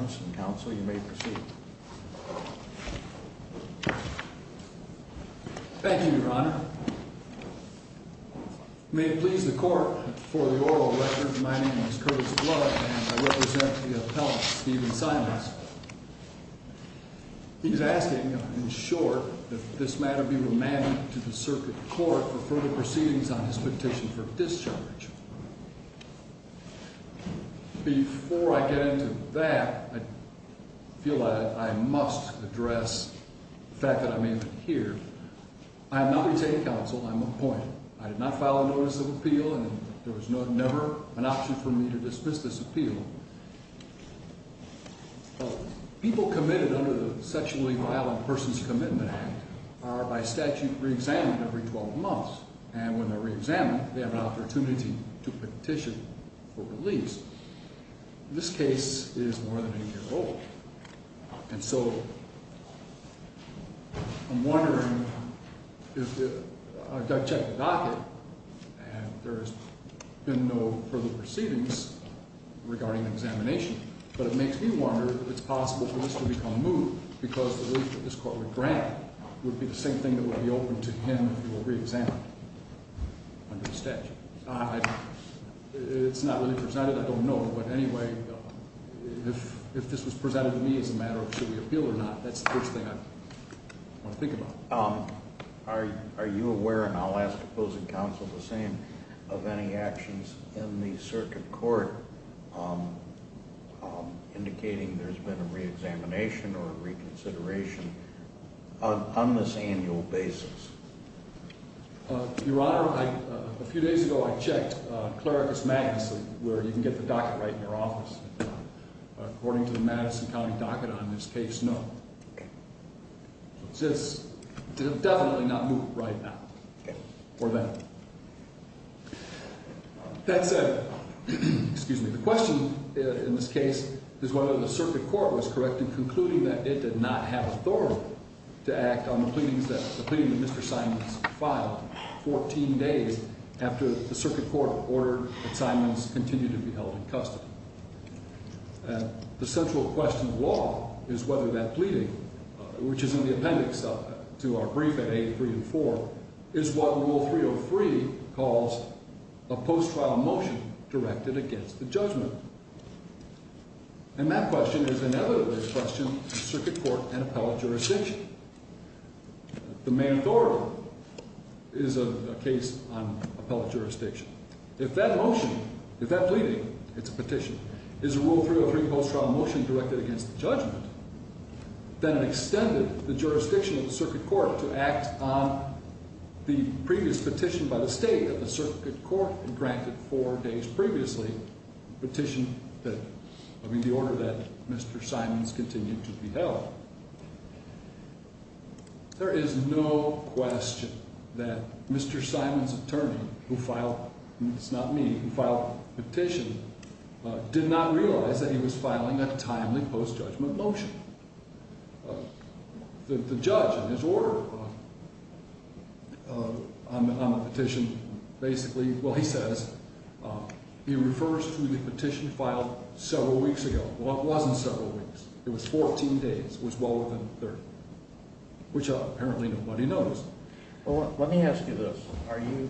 and counsel. You may proceed. Thank you, Your Honor. May it please the court for the oral record. My name is Curtis Blood and I represent the appellant, Stephen Simons. He's asking, in short, that this matter be remanded to the circuit court for further proceedings to be made. Before I get into that, I feel I must address the fact that I'm even here. I have not retained counsel. I'm appointed. I did not file a notice of appeal and there was never an option for me to dismiss this appeal. People committed under the Sexually Violent Persons Commitment Act are by statute reexamined every 12 months. And when they're reexamined, they have an opportunity to petition for release. This case is more than a year old. And so I'm wondering if I've checked the docket and there has been no further proceedings regarding examination, but it makes me wonder if it's possible for this to become a move because the relief that this court would grant would be the same thing that would be open to him if he were reexamined under the statute. It's not really presented. I don't know. But anyway, if this was presented to me as a matter of should we appeal or not, that's the first thing I want to think about. Are you aware, and I'll ask opposing counsel the same, of any actions in the circuit court indicating there's been a reexamination or reconsideration on this annual basis? Your Honor, a few days ago I checked Clericus Magnus where you can get the docket right in your office. According to the Madison County docket on this case, no. It's definitely not moving right now or then. That said, the question in this case is whether the circuit court was correct in concluding that it did not have authority to act on the pleadings that Mr. Simons filed 14 days after the circuit court ordered that Simons continue to be held in custody. The central question of law is whether that pleading, which is in the appendix to our brief at 8, 3, and 4, is what Rule 303 calls a post-trial motion directed against the judgment. And that question is inevitably a question of circuit court and appellate jurisdiction. The main authority is a case on appellate jurisdiction. If that motion, if that pleading, it's a petition, is a Rule 303 post-trial motion directed against the judgment, then it extended the jurisdiction of the circuit court to act on the previous petition by the state that the circuit court had granted four days previously, the petition that, I mean, the order that Mr. Simons continued to be held. There is no question that Mr. Simons' attorney, who filed, and it's not me, who filed the petition, did not realize that he was filing a timely post-judgment motion. The judge in his order on the petition basically, well, he says, he refers to the petition filed several weeks ago. Well, it wasn't several weeks. It was 14 days. It was well within 30, which apparently nobody knows. Well, let me ask you this. Are you,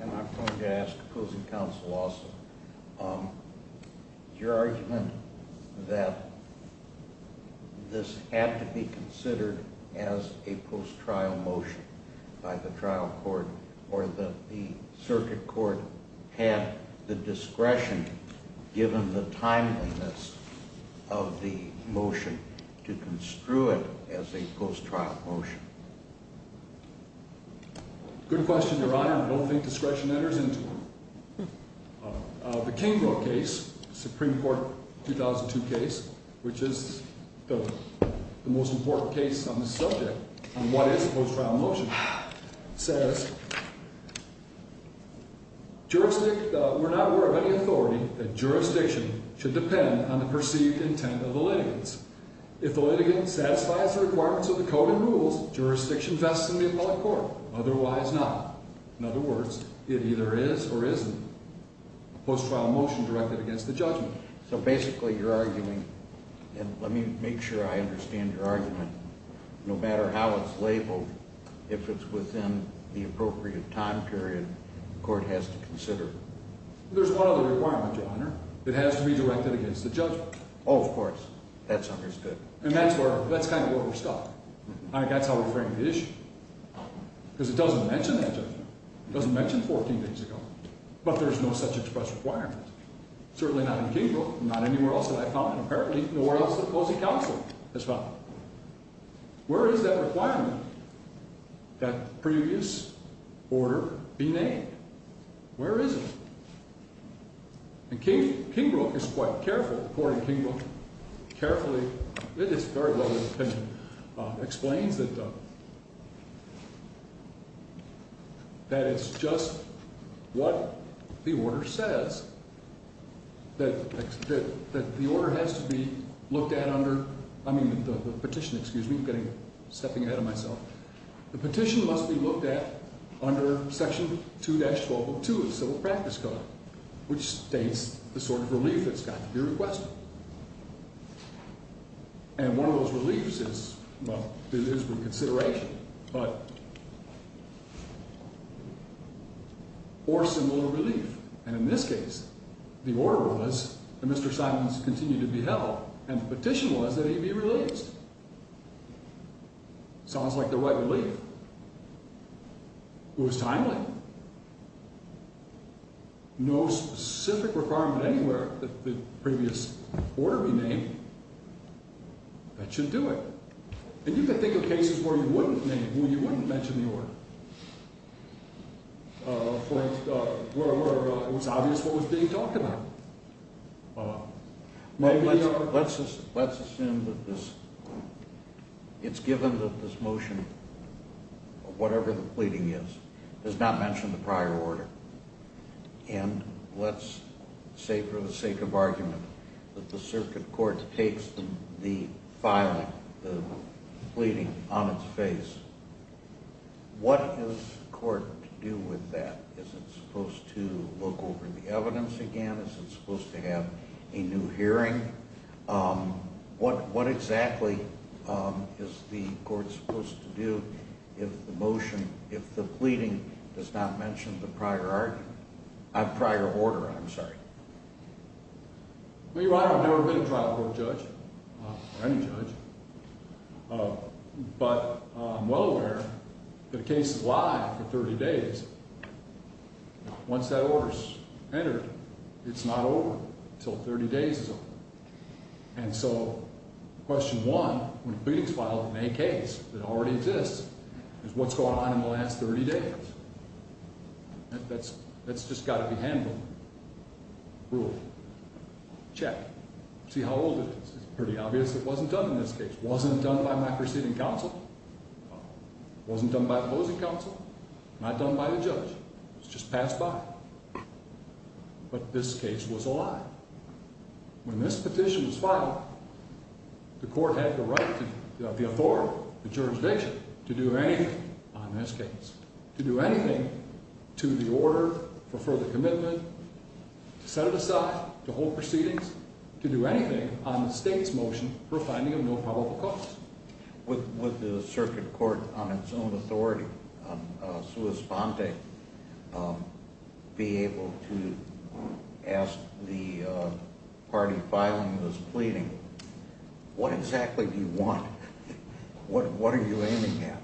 and I'm going to ask opposing counsel also, your argument that this had to be considered as a post-trial motion by the trial court or that the circuit court had the discretion, given the timeliness of the motion, to construe it as a post-trial motion? Good question, Your Honor. I don't think discretion enters into it. The Kingville case, Supreme Court 2002 case, which is the most important case on this subject, on what is a post-trial motion, says, we're not aware of any authority that jurisdiction should depend on the perceived intent of the litigants. If the litigant satisfies the requirements of the code and rules, jurisdiction vests in the appellate court. Otherwise not. In other words, it either is or isn't a post-trial motion directed against the judgment. So basically you're arguing, and let me make sure I understand your argument, no matter how it's labeled, if it's within the appropriate time period, the court has to consider it. There's one other requirement, Your Honor. It has to be directed against the judgment. Oh, of course. That's understood. And that's where, that's kind of where we're stuck. I think that's how we frame the issue. Because it doesn't mention that judgment. It doesn't mention 14 days ago. But there's no such express requirement. Certainly not in Kingbrook. Not anywhere else that I've found. And apparently nowhere else that Posey Counselor has found. Where is that requirement? That previous order be named. Where is it? And Kingbrook is quite careful, according to Kingbrook, carefully, it is very well written, explains that it's just what the order says. That the order has to be looked at under, I mean the petition, excuse me, I'm stepping ahead of myself. The petition must be looked at under Section 2-12.2 of the Civil Practice Code, which states the sort of relief it's got to be requested. And one of those reliefs is, well, it is for consideration, but, or symbol of relief. And in this case, the order was that Mr. Simons continue to be held. And the petition was that he be released. Sounds like the right relief. It was timely. No specific requirement anywhere that the previous order be named. That should do it. And you can think of cases where you wouldn't name, where you wouldn't mention the order. Where it was obvious what was being talked about. Let's assume that this, it's given that this motion, whatever the pleading is, does not mention the prior order. And let's say for the sake of argument, that the circuit court takes the filing, the pleading on its face. What is court to do with that? Is it supposed to look over the evidence again? Is it supposed to have a new hearing? What exactly is the court supposed to do if the motion, if the pleading does not mention the prior order? I'm sorry. Well, Your Honor, I've never been a trial court judge, or any judge. But I'm well aware that a case is live for 30 days. Once that order is entered, it's not over until 30 days is over. And so, question one, when a pleading is filed in a case that already exists, is what's going on in the last 30 days? That's just got to be handled. Rule. Check. See how old it is. It's pretty obvious it wasn't done in this case. Wasn't done by my preceding counsel? No. Wasn't done by opposing counsel? Not done by the judge. It was just passed by. But this case was a lie. When this petition was filed, the court had the right, the authority, the jurisdiction to do anything on this case. To do anything to the order for further commitment, to set it aside, to hold proceedings, to do anything on the state's motion for finding of no probable cause. Would the circuit court on its own authority, on sua sponte, be able to ask the party filing this pleading, what exactly do you want? What are you aiming at?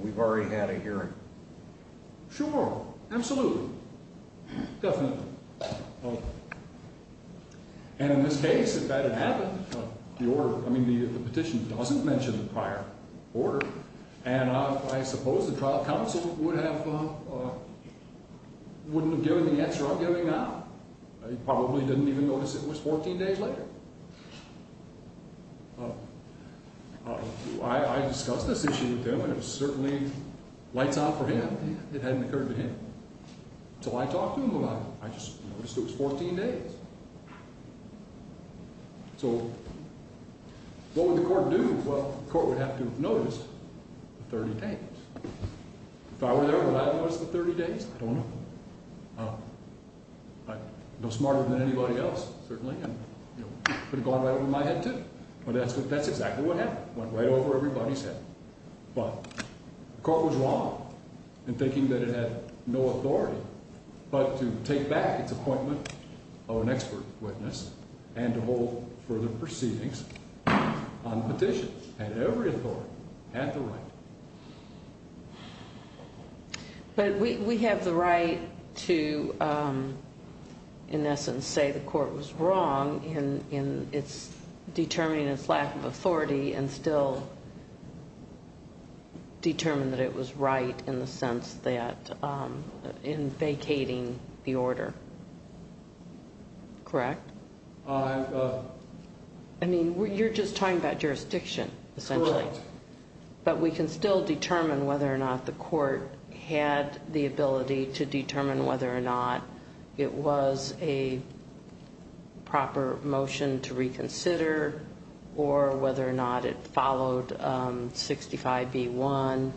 We've already had a hearing. Sure. Absolutely. Definitely. And in this case, if that had happened, the petition doesn't mention the prior order, and I suppose the trial counsel wouldn't have given the answer I'm giving now. He probably didn't even notice it was 14 days later. I discussed this issue with him, and it certainly lights out for him. It hadn't occurred to him. So I talked to him about it. I just noticed it was 14 days. So what would the court do? Well, the court would have to notice the 30 days. If I were there, would I have noticed the 30 days? I don't know. I'm no smarter than anybody else, certainly, and it would have gone right over my head, too. But that's exactly what happened. It went right over everybody's head. Well, the court was wrong in thinking that it had no authority but to take back its appointment of an expert witness and to hold further proceedings on the petition. It had every authority. It had the right. But we have the right to, in essence, say the court was wrong in determining its lack of authority and still determine that it was right in the sense that in vacating the order. Correct? I mean, you're just talking about jurisdiction, essentially. But we can still determine whether or not the court had the ability to determine whether or not it was a proper motion to reconsider or whether or not it followed 65B1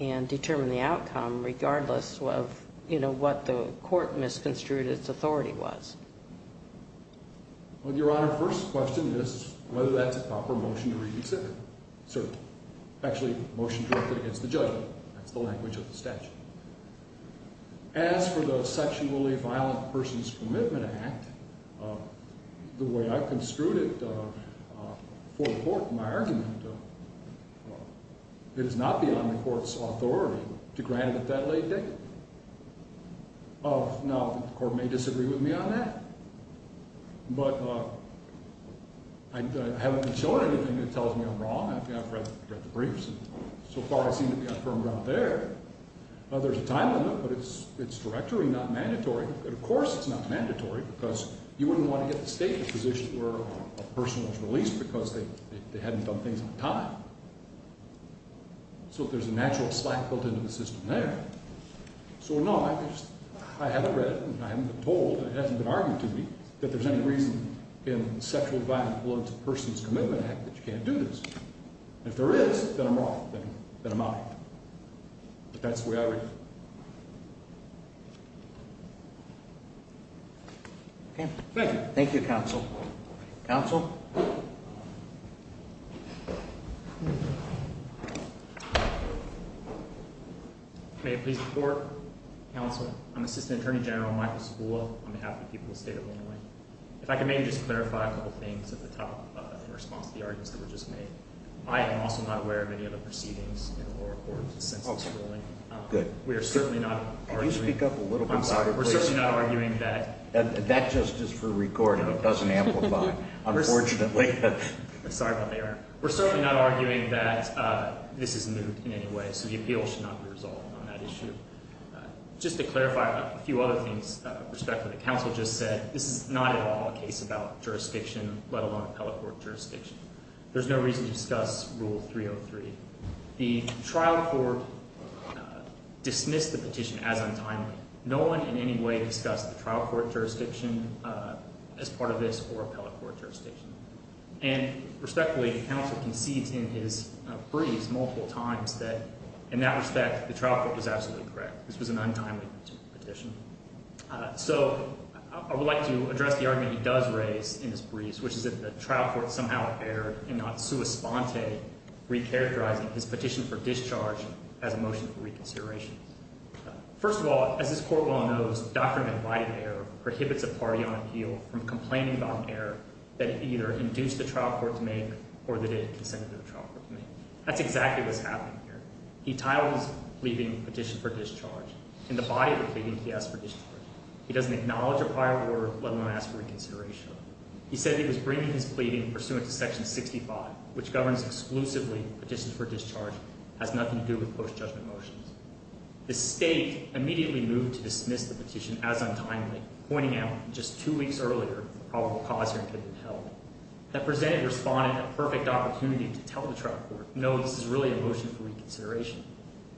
and determine the outcome regardless of what the court misconstrued its authority was. Well, Your Honor, first question is whether that's a proper motion to reconsider. Certainly. Actually, motion directed against the judgment. That's the language of the statute. As for the sexually violent person's commitment act, the way I've construed it for the court in my argument, it is not beyond the court's authority to grant it at that late date. Now, the court may disagree with me on that, but I haven't been shown anything that tells me I'm wrong. I've read the briefs, and so far it seems to be on firm ground there. There's a time limit, but it's directory, not mandatory. Of course it's not mandatory because you wouldn't want to get the state in a position where a person was released because they hadn't done things on time. So there's a natural slack built into the system there. So, no, I haven't read it, and I haven't been told, and it hasn't been argued to me that there's any reason in the sexually violent person's commitment act that you can't do this. If there is, then I'm wrong. Then I'm out. But that's the way I read it. Okay. Thank you. Thank you, counsel. Counsel? Counsel? May it please the court? Counsel, I'm Assistant Attorney General Michael Sabula on behalf of the people of the state of Illinois. If I could maybe just clarify a couple things at the top in response to the arguments that were just made. I am also not aware of any other proceedings in the oral court since its ruling. Good. We are certainly not arguing. Could you speak up a little bit louder, please? We're certainly not arguing that. That just is for recording. It doesn't amplify, unfortunately. Sorry about that, Eric. We're certainly not arguing that this is moot in any way, so the appeal should not be resolved on that issue. Just to clarify a few other things with respect to what the counsel just said, this is not at all a case about jurisdiction, let alone appellate court jurisdiction. There's no reason to discuss Rule 303. The trial court dismissed the petition as untimely. No one in any way discussed the trial court jurisdiction as part of this or appellate court jurisdiction. And respectfully, counsel concedes in his briefs multiple times that in that respect, the trial court was absolutely correct. This was an untimely petition. So I would like to address the argument he does raise in his briefs, which is that the trial court somehow erred and not sua sponte, recharacterizing his petition for discharge as a motion for reconsideration. First of all, as this court well knows, doctrine of right of error prohibits a party on appeal from complaining about an error that either induced the trial court to make or that it consented to the trial court to make. That's exactly what's happening here. He titles his pleading petition for discharge. In the body of the pleading, he asks for discharge. He doesn't acknowledge a prior order, let alone ask for reconsideration. He said he was bringing his pleading pursuant to Section 65, which governs exclusively petitions for discharge, has nothing to do with post-judgment motions. The state immediately moved to dismiss the petition as untimely, pointing out just two weeks earlier the probable cause here could have been held. That presented respondent a perfect opportunity to tell the trial court, no, this is really a motion for reconsideration.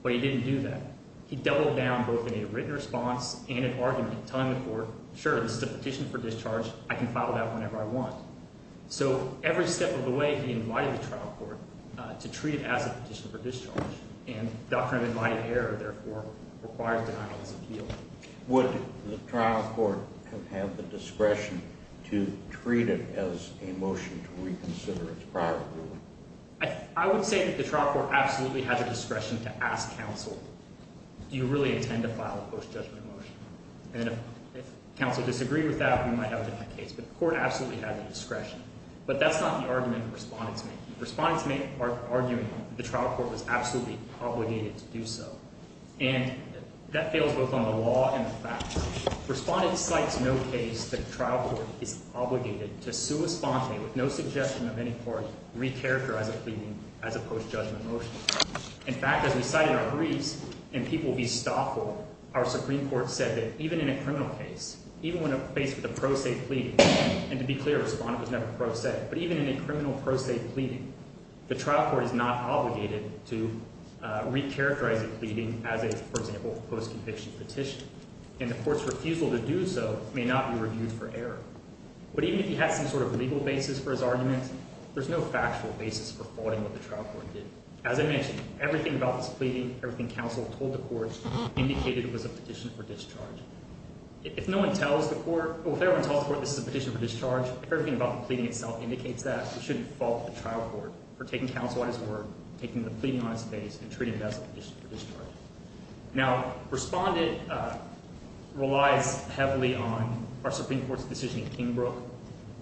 But he didn't do that. He doubled down both in a written response and an argument, telling the court, sure, this is a petition for discharge. I can file it out whenever I want. So every step of the way, he invited the trial court to treat it as a petition for discharge, and doctrine of invited error, therefore, requires denial as appeal. Would the trial court have had the discretion to treat it as a motion to reconsider its prior ruling? I would say that the trial court absolutely has a discretion to ask counsel, do you really intend to file a post-judgment motion? And if counsel disagrees with that, we might have a different case. But the court absolutely has the discretion. But that's not the argument the respondents make. Respondents make the argument that the trial court was absolutely obligated to do so. And that fails both on the law and the facts. Respondents cite no case that the trial court is obligated to sua sponte, with no suggestion of any court, recharacterize a plea as a post-judgment motion. In fact, as we cite in our briefs, and people will be stifled, our Supreme Court said that even in a criminal case, even when faced with a pro se plea, and to be clear, respondent was never pro se, but even in a criminal pro se plea, the trial court is not obligated to recharacterize a plea as a, for example, post-conviction petition. And the court's refusal to do so may not be reviewed for error. But even if he had some sort of legal basis for his argument, there's no factual basis for faulting what the trial court did. As I mentioned, everything about this pleading, everything counsel told the court, indicated it was a petition for discharge. If no one tells the court, or if everyone tells the court this is a petition for discharge, everything about the pleading itself indicates that. You shouldn't fault the trial court for taking counsel at his word, taking the pleading on its face, and treating it as a petition for discharge. Now, respondent relies heavily on our Supreme Court's decision in Kingbrook.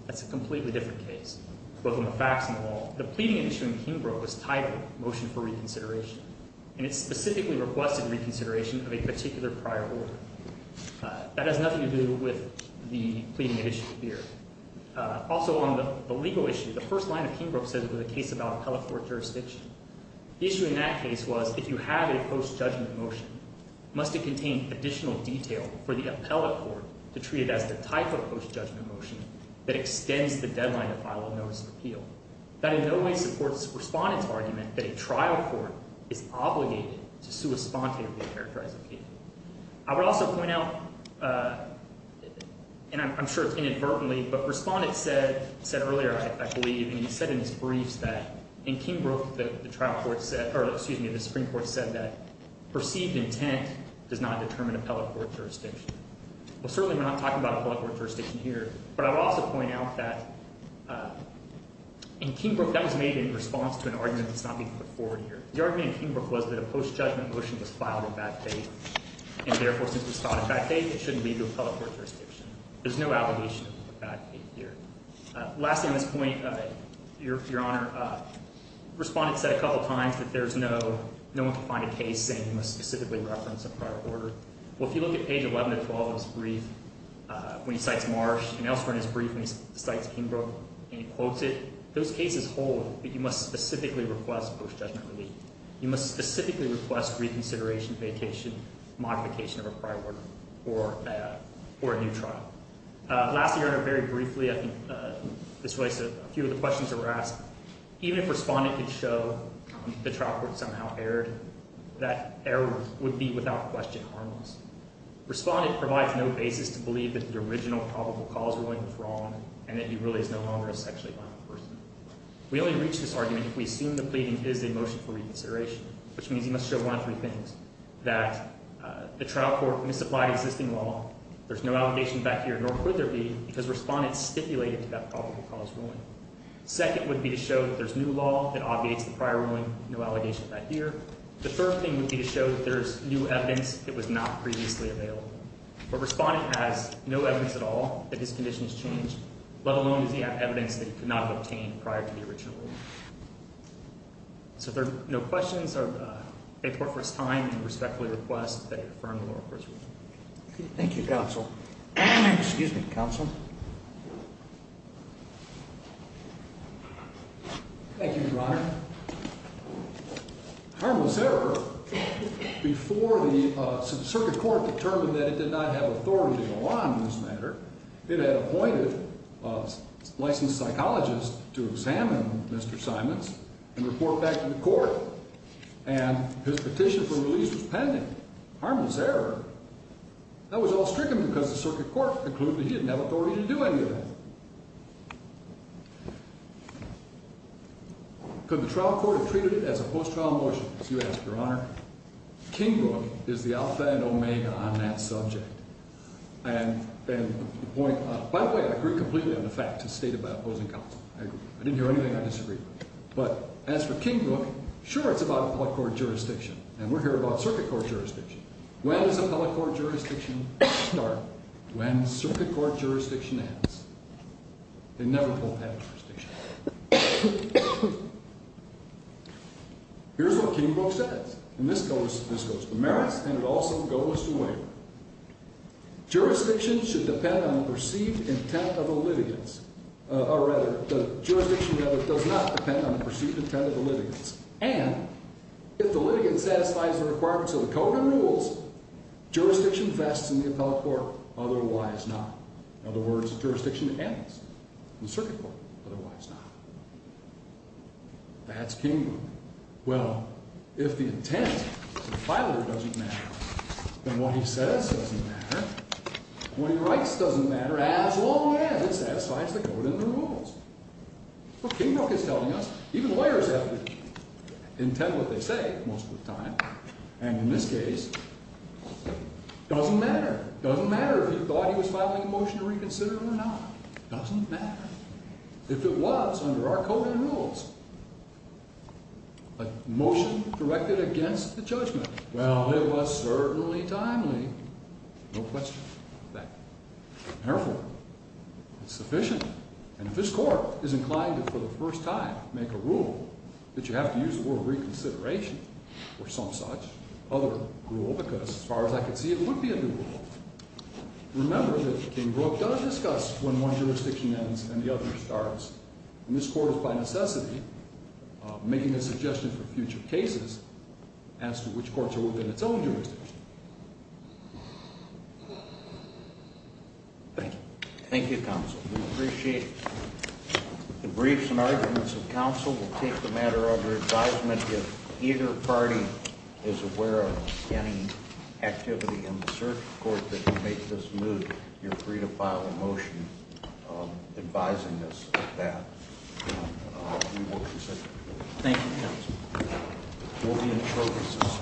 That's a completely different case, both on the facts and the law. The pleading issue in Kingbrook was titled Motion for Reconsideration, and it specifically requested reconsideration of a particular prior order. That has nothing to do with the pleading issue here. Also on the legal issue, the first line of Kingbrook says it was a case about appellate court jurisdiction. The issue in that case was if you have a post-judgment motion, must it contain additional detail for the appellate court to treat it as the type of post-judgment motion that extends the deadline to file a notice of appeal. That in no way supports respondent's argument that a trial court is obligated to sui spontae of the characterized appeal. I would also point out, and I'm sure it's inadvertently, but respondent said earlier, I believe, and he said in his briefs that in Kingbrook the Supreme Court said that perceived intent does not determine appellate court jurisdiction. Well, certainly we're not talking about appellate court jurisdiction here, but I will also point out that in Kingbrook that was made in response to an argument that's not being put forward here. The argument in Kingbrook was that a post-judgment motion was filed in bad faith, and therefore since it was filed in bad faith, it shouldn't lead to appellate court jurisdiction. There's no allegation of bad faith here. Lastly on this point, Your Honor, respondent said a couple of times that there's no one to find a case saying we must specifically reference a prior order. Well, if you look at page 11-12 of his brief when he cites Marsh, and elsewhere in his brief when he cites Kingbrook and he quotes it, those cases hold that you must specifically request post-judgment relief. You must specifically request reconsideration, vacation, modification of a prior order for a new trial. Lastly, Your Honor, very briefly, I think this relates to a few of the questions that were asked. Even if respondent could show the trial court somehow erred, that error would be without question harmless. Respondent provides no basis to believe that the original probable cause ruling was wrong and that he really is no longer a sexually violent person. We only reach this argument if we assume the pleading is a motion for reconsideration, which means he must show one of three things, that the trial court misapplied existing law, there's no allegation back here, nor could there be, because respondent stipulated to that probable cause ruling. Second would be to show that there's new law that obviates the prior ruling, no allegation back here. The third thing would be to show that there's new evidence that was not previously available. But respondent has no evidence at all that his condition has changed, let alone does he have evidence that he could not have obtained prior to the original ruling. So if there are no questions, I'd like to thank the court for its time and respectfully request that you affirm the moral course ruling. Thank you, counsel. Excuse me, counsel. Thank you, Your Honor. Harmless error. Before the circuit court determined that it did not have authority in the law on this matter, it had appointed a licensed psychologist to examine Mr. Simons and report back to the court, and his petition for release was pending. Harmless error. That was all stricken because the circuit court concluded he didn't have authority to do any of that. Could the trial court have treated it as a post-trial motion? You ask, Your Honor. King Book is the alpha and omega on that subject. And by the way, I agree completely on the fact to state about opposing counsel. I didn't hear anything I disagreed with. But as for King Book, sure, it's about appellate court jurisdiction, and we're here about circuit court jurisdiction. When does appellate court jurisdiction start? When circuit court jurisdiction ends. They never hold that jurisdiction. Here's what King Book says, and this goes to the merits and it also goes to the waiver. Jurisdiction should depend on the perceived intent of the litigants. Or rather, the jurisdiction does not depend on the perceived intent of the litigants. And if the litigant satisfies the requirements of the code and rules, jurisdiction vests in the appellate court otherwise not. In other words, jurisdiction ends in the circuit court otherwise not. That's King Book. Well, if the intent of the filer doesn't matter, then what he says doesn't matter, and what he writes doesn't matter as long as it satisfies the code and the rules. That's what King Book is telling us. Even lawyers have to intend what they say most of the time. And in this case, it doesn't matter. It doesn't matter if he thought he was filing a motion to reconsider or not. It doesn't matter. If it was under our code and rules, a motion directed against the judgment, well, it was certainly timely. No question of that. Therefore, it's sufficient. And if this court is inclined to, for the first time, make a rule that you have to use the word reconsideration or some such other rule, because as far as I can see, it would be a new rule, remember that King Book does discuss when one jurisdiction ends and the other starts. And this court is, by necessity, making a suggestion for future cases as to which courts are within its own jurisdiction. Thank you. Thank you, counsel. We appreciate the briefs and arguments of counsel. We'll take the matter under advisement. If either party is aware of any activity in the circuit court that could make this move, you're free to file a motion advising us of that. And we will consider it. Thank you, counsel. We'll be in short recess.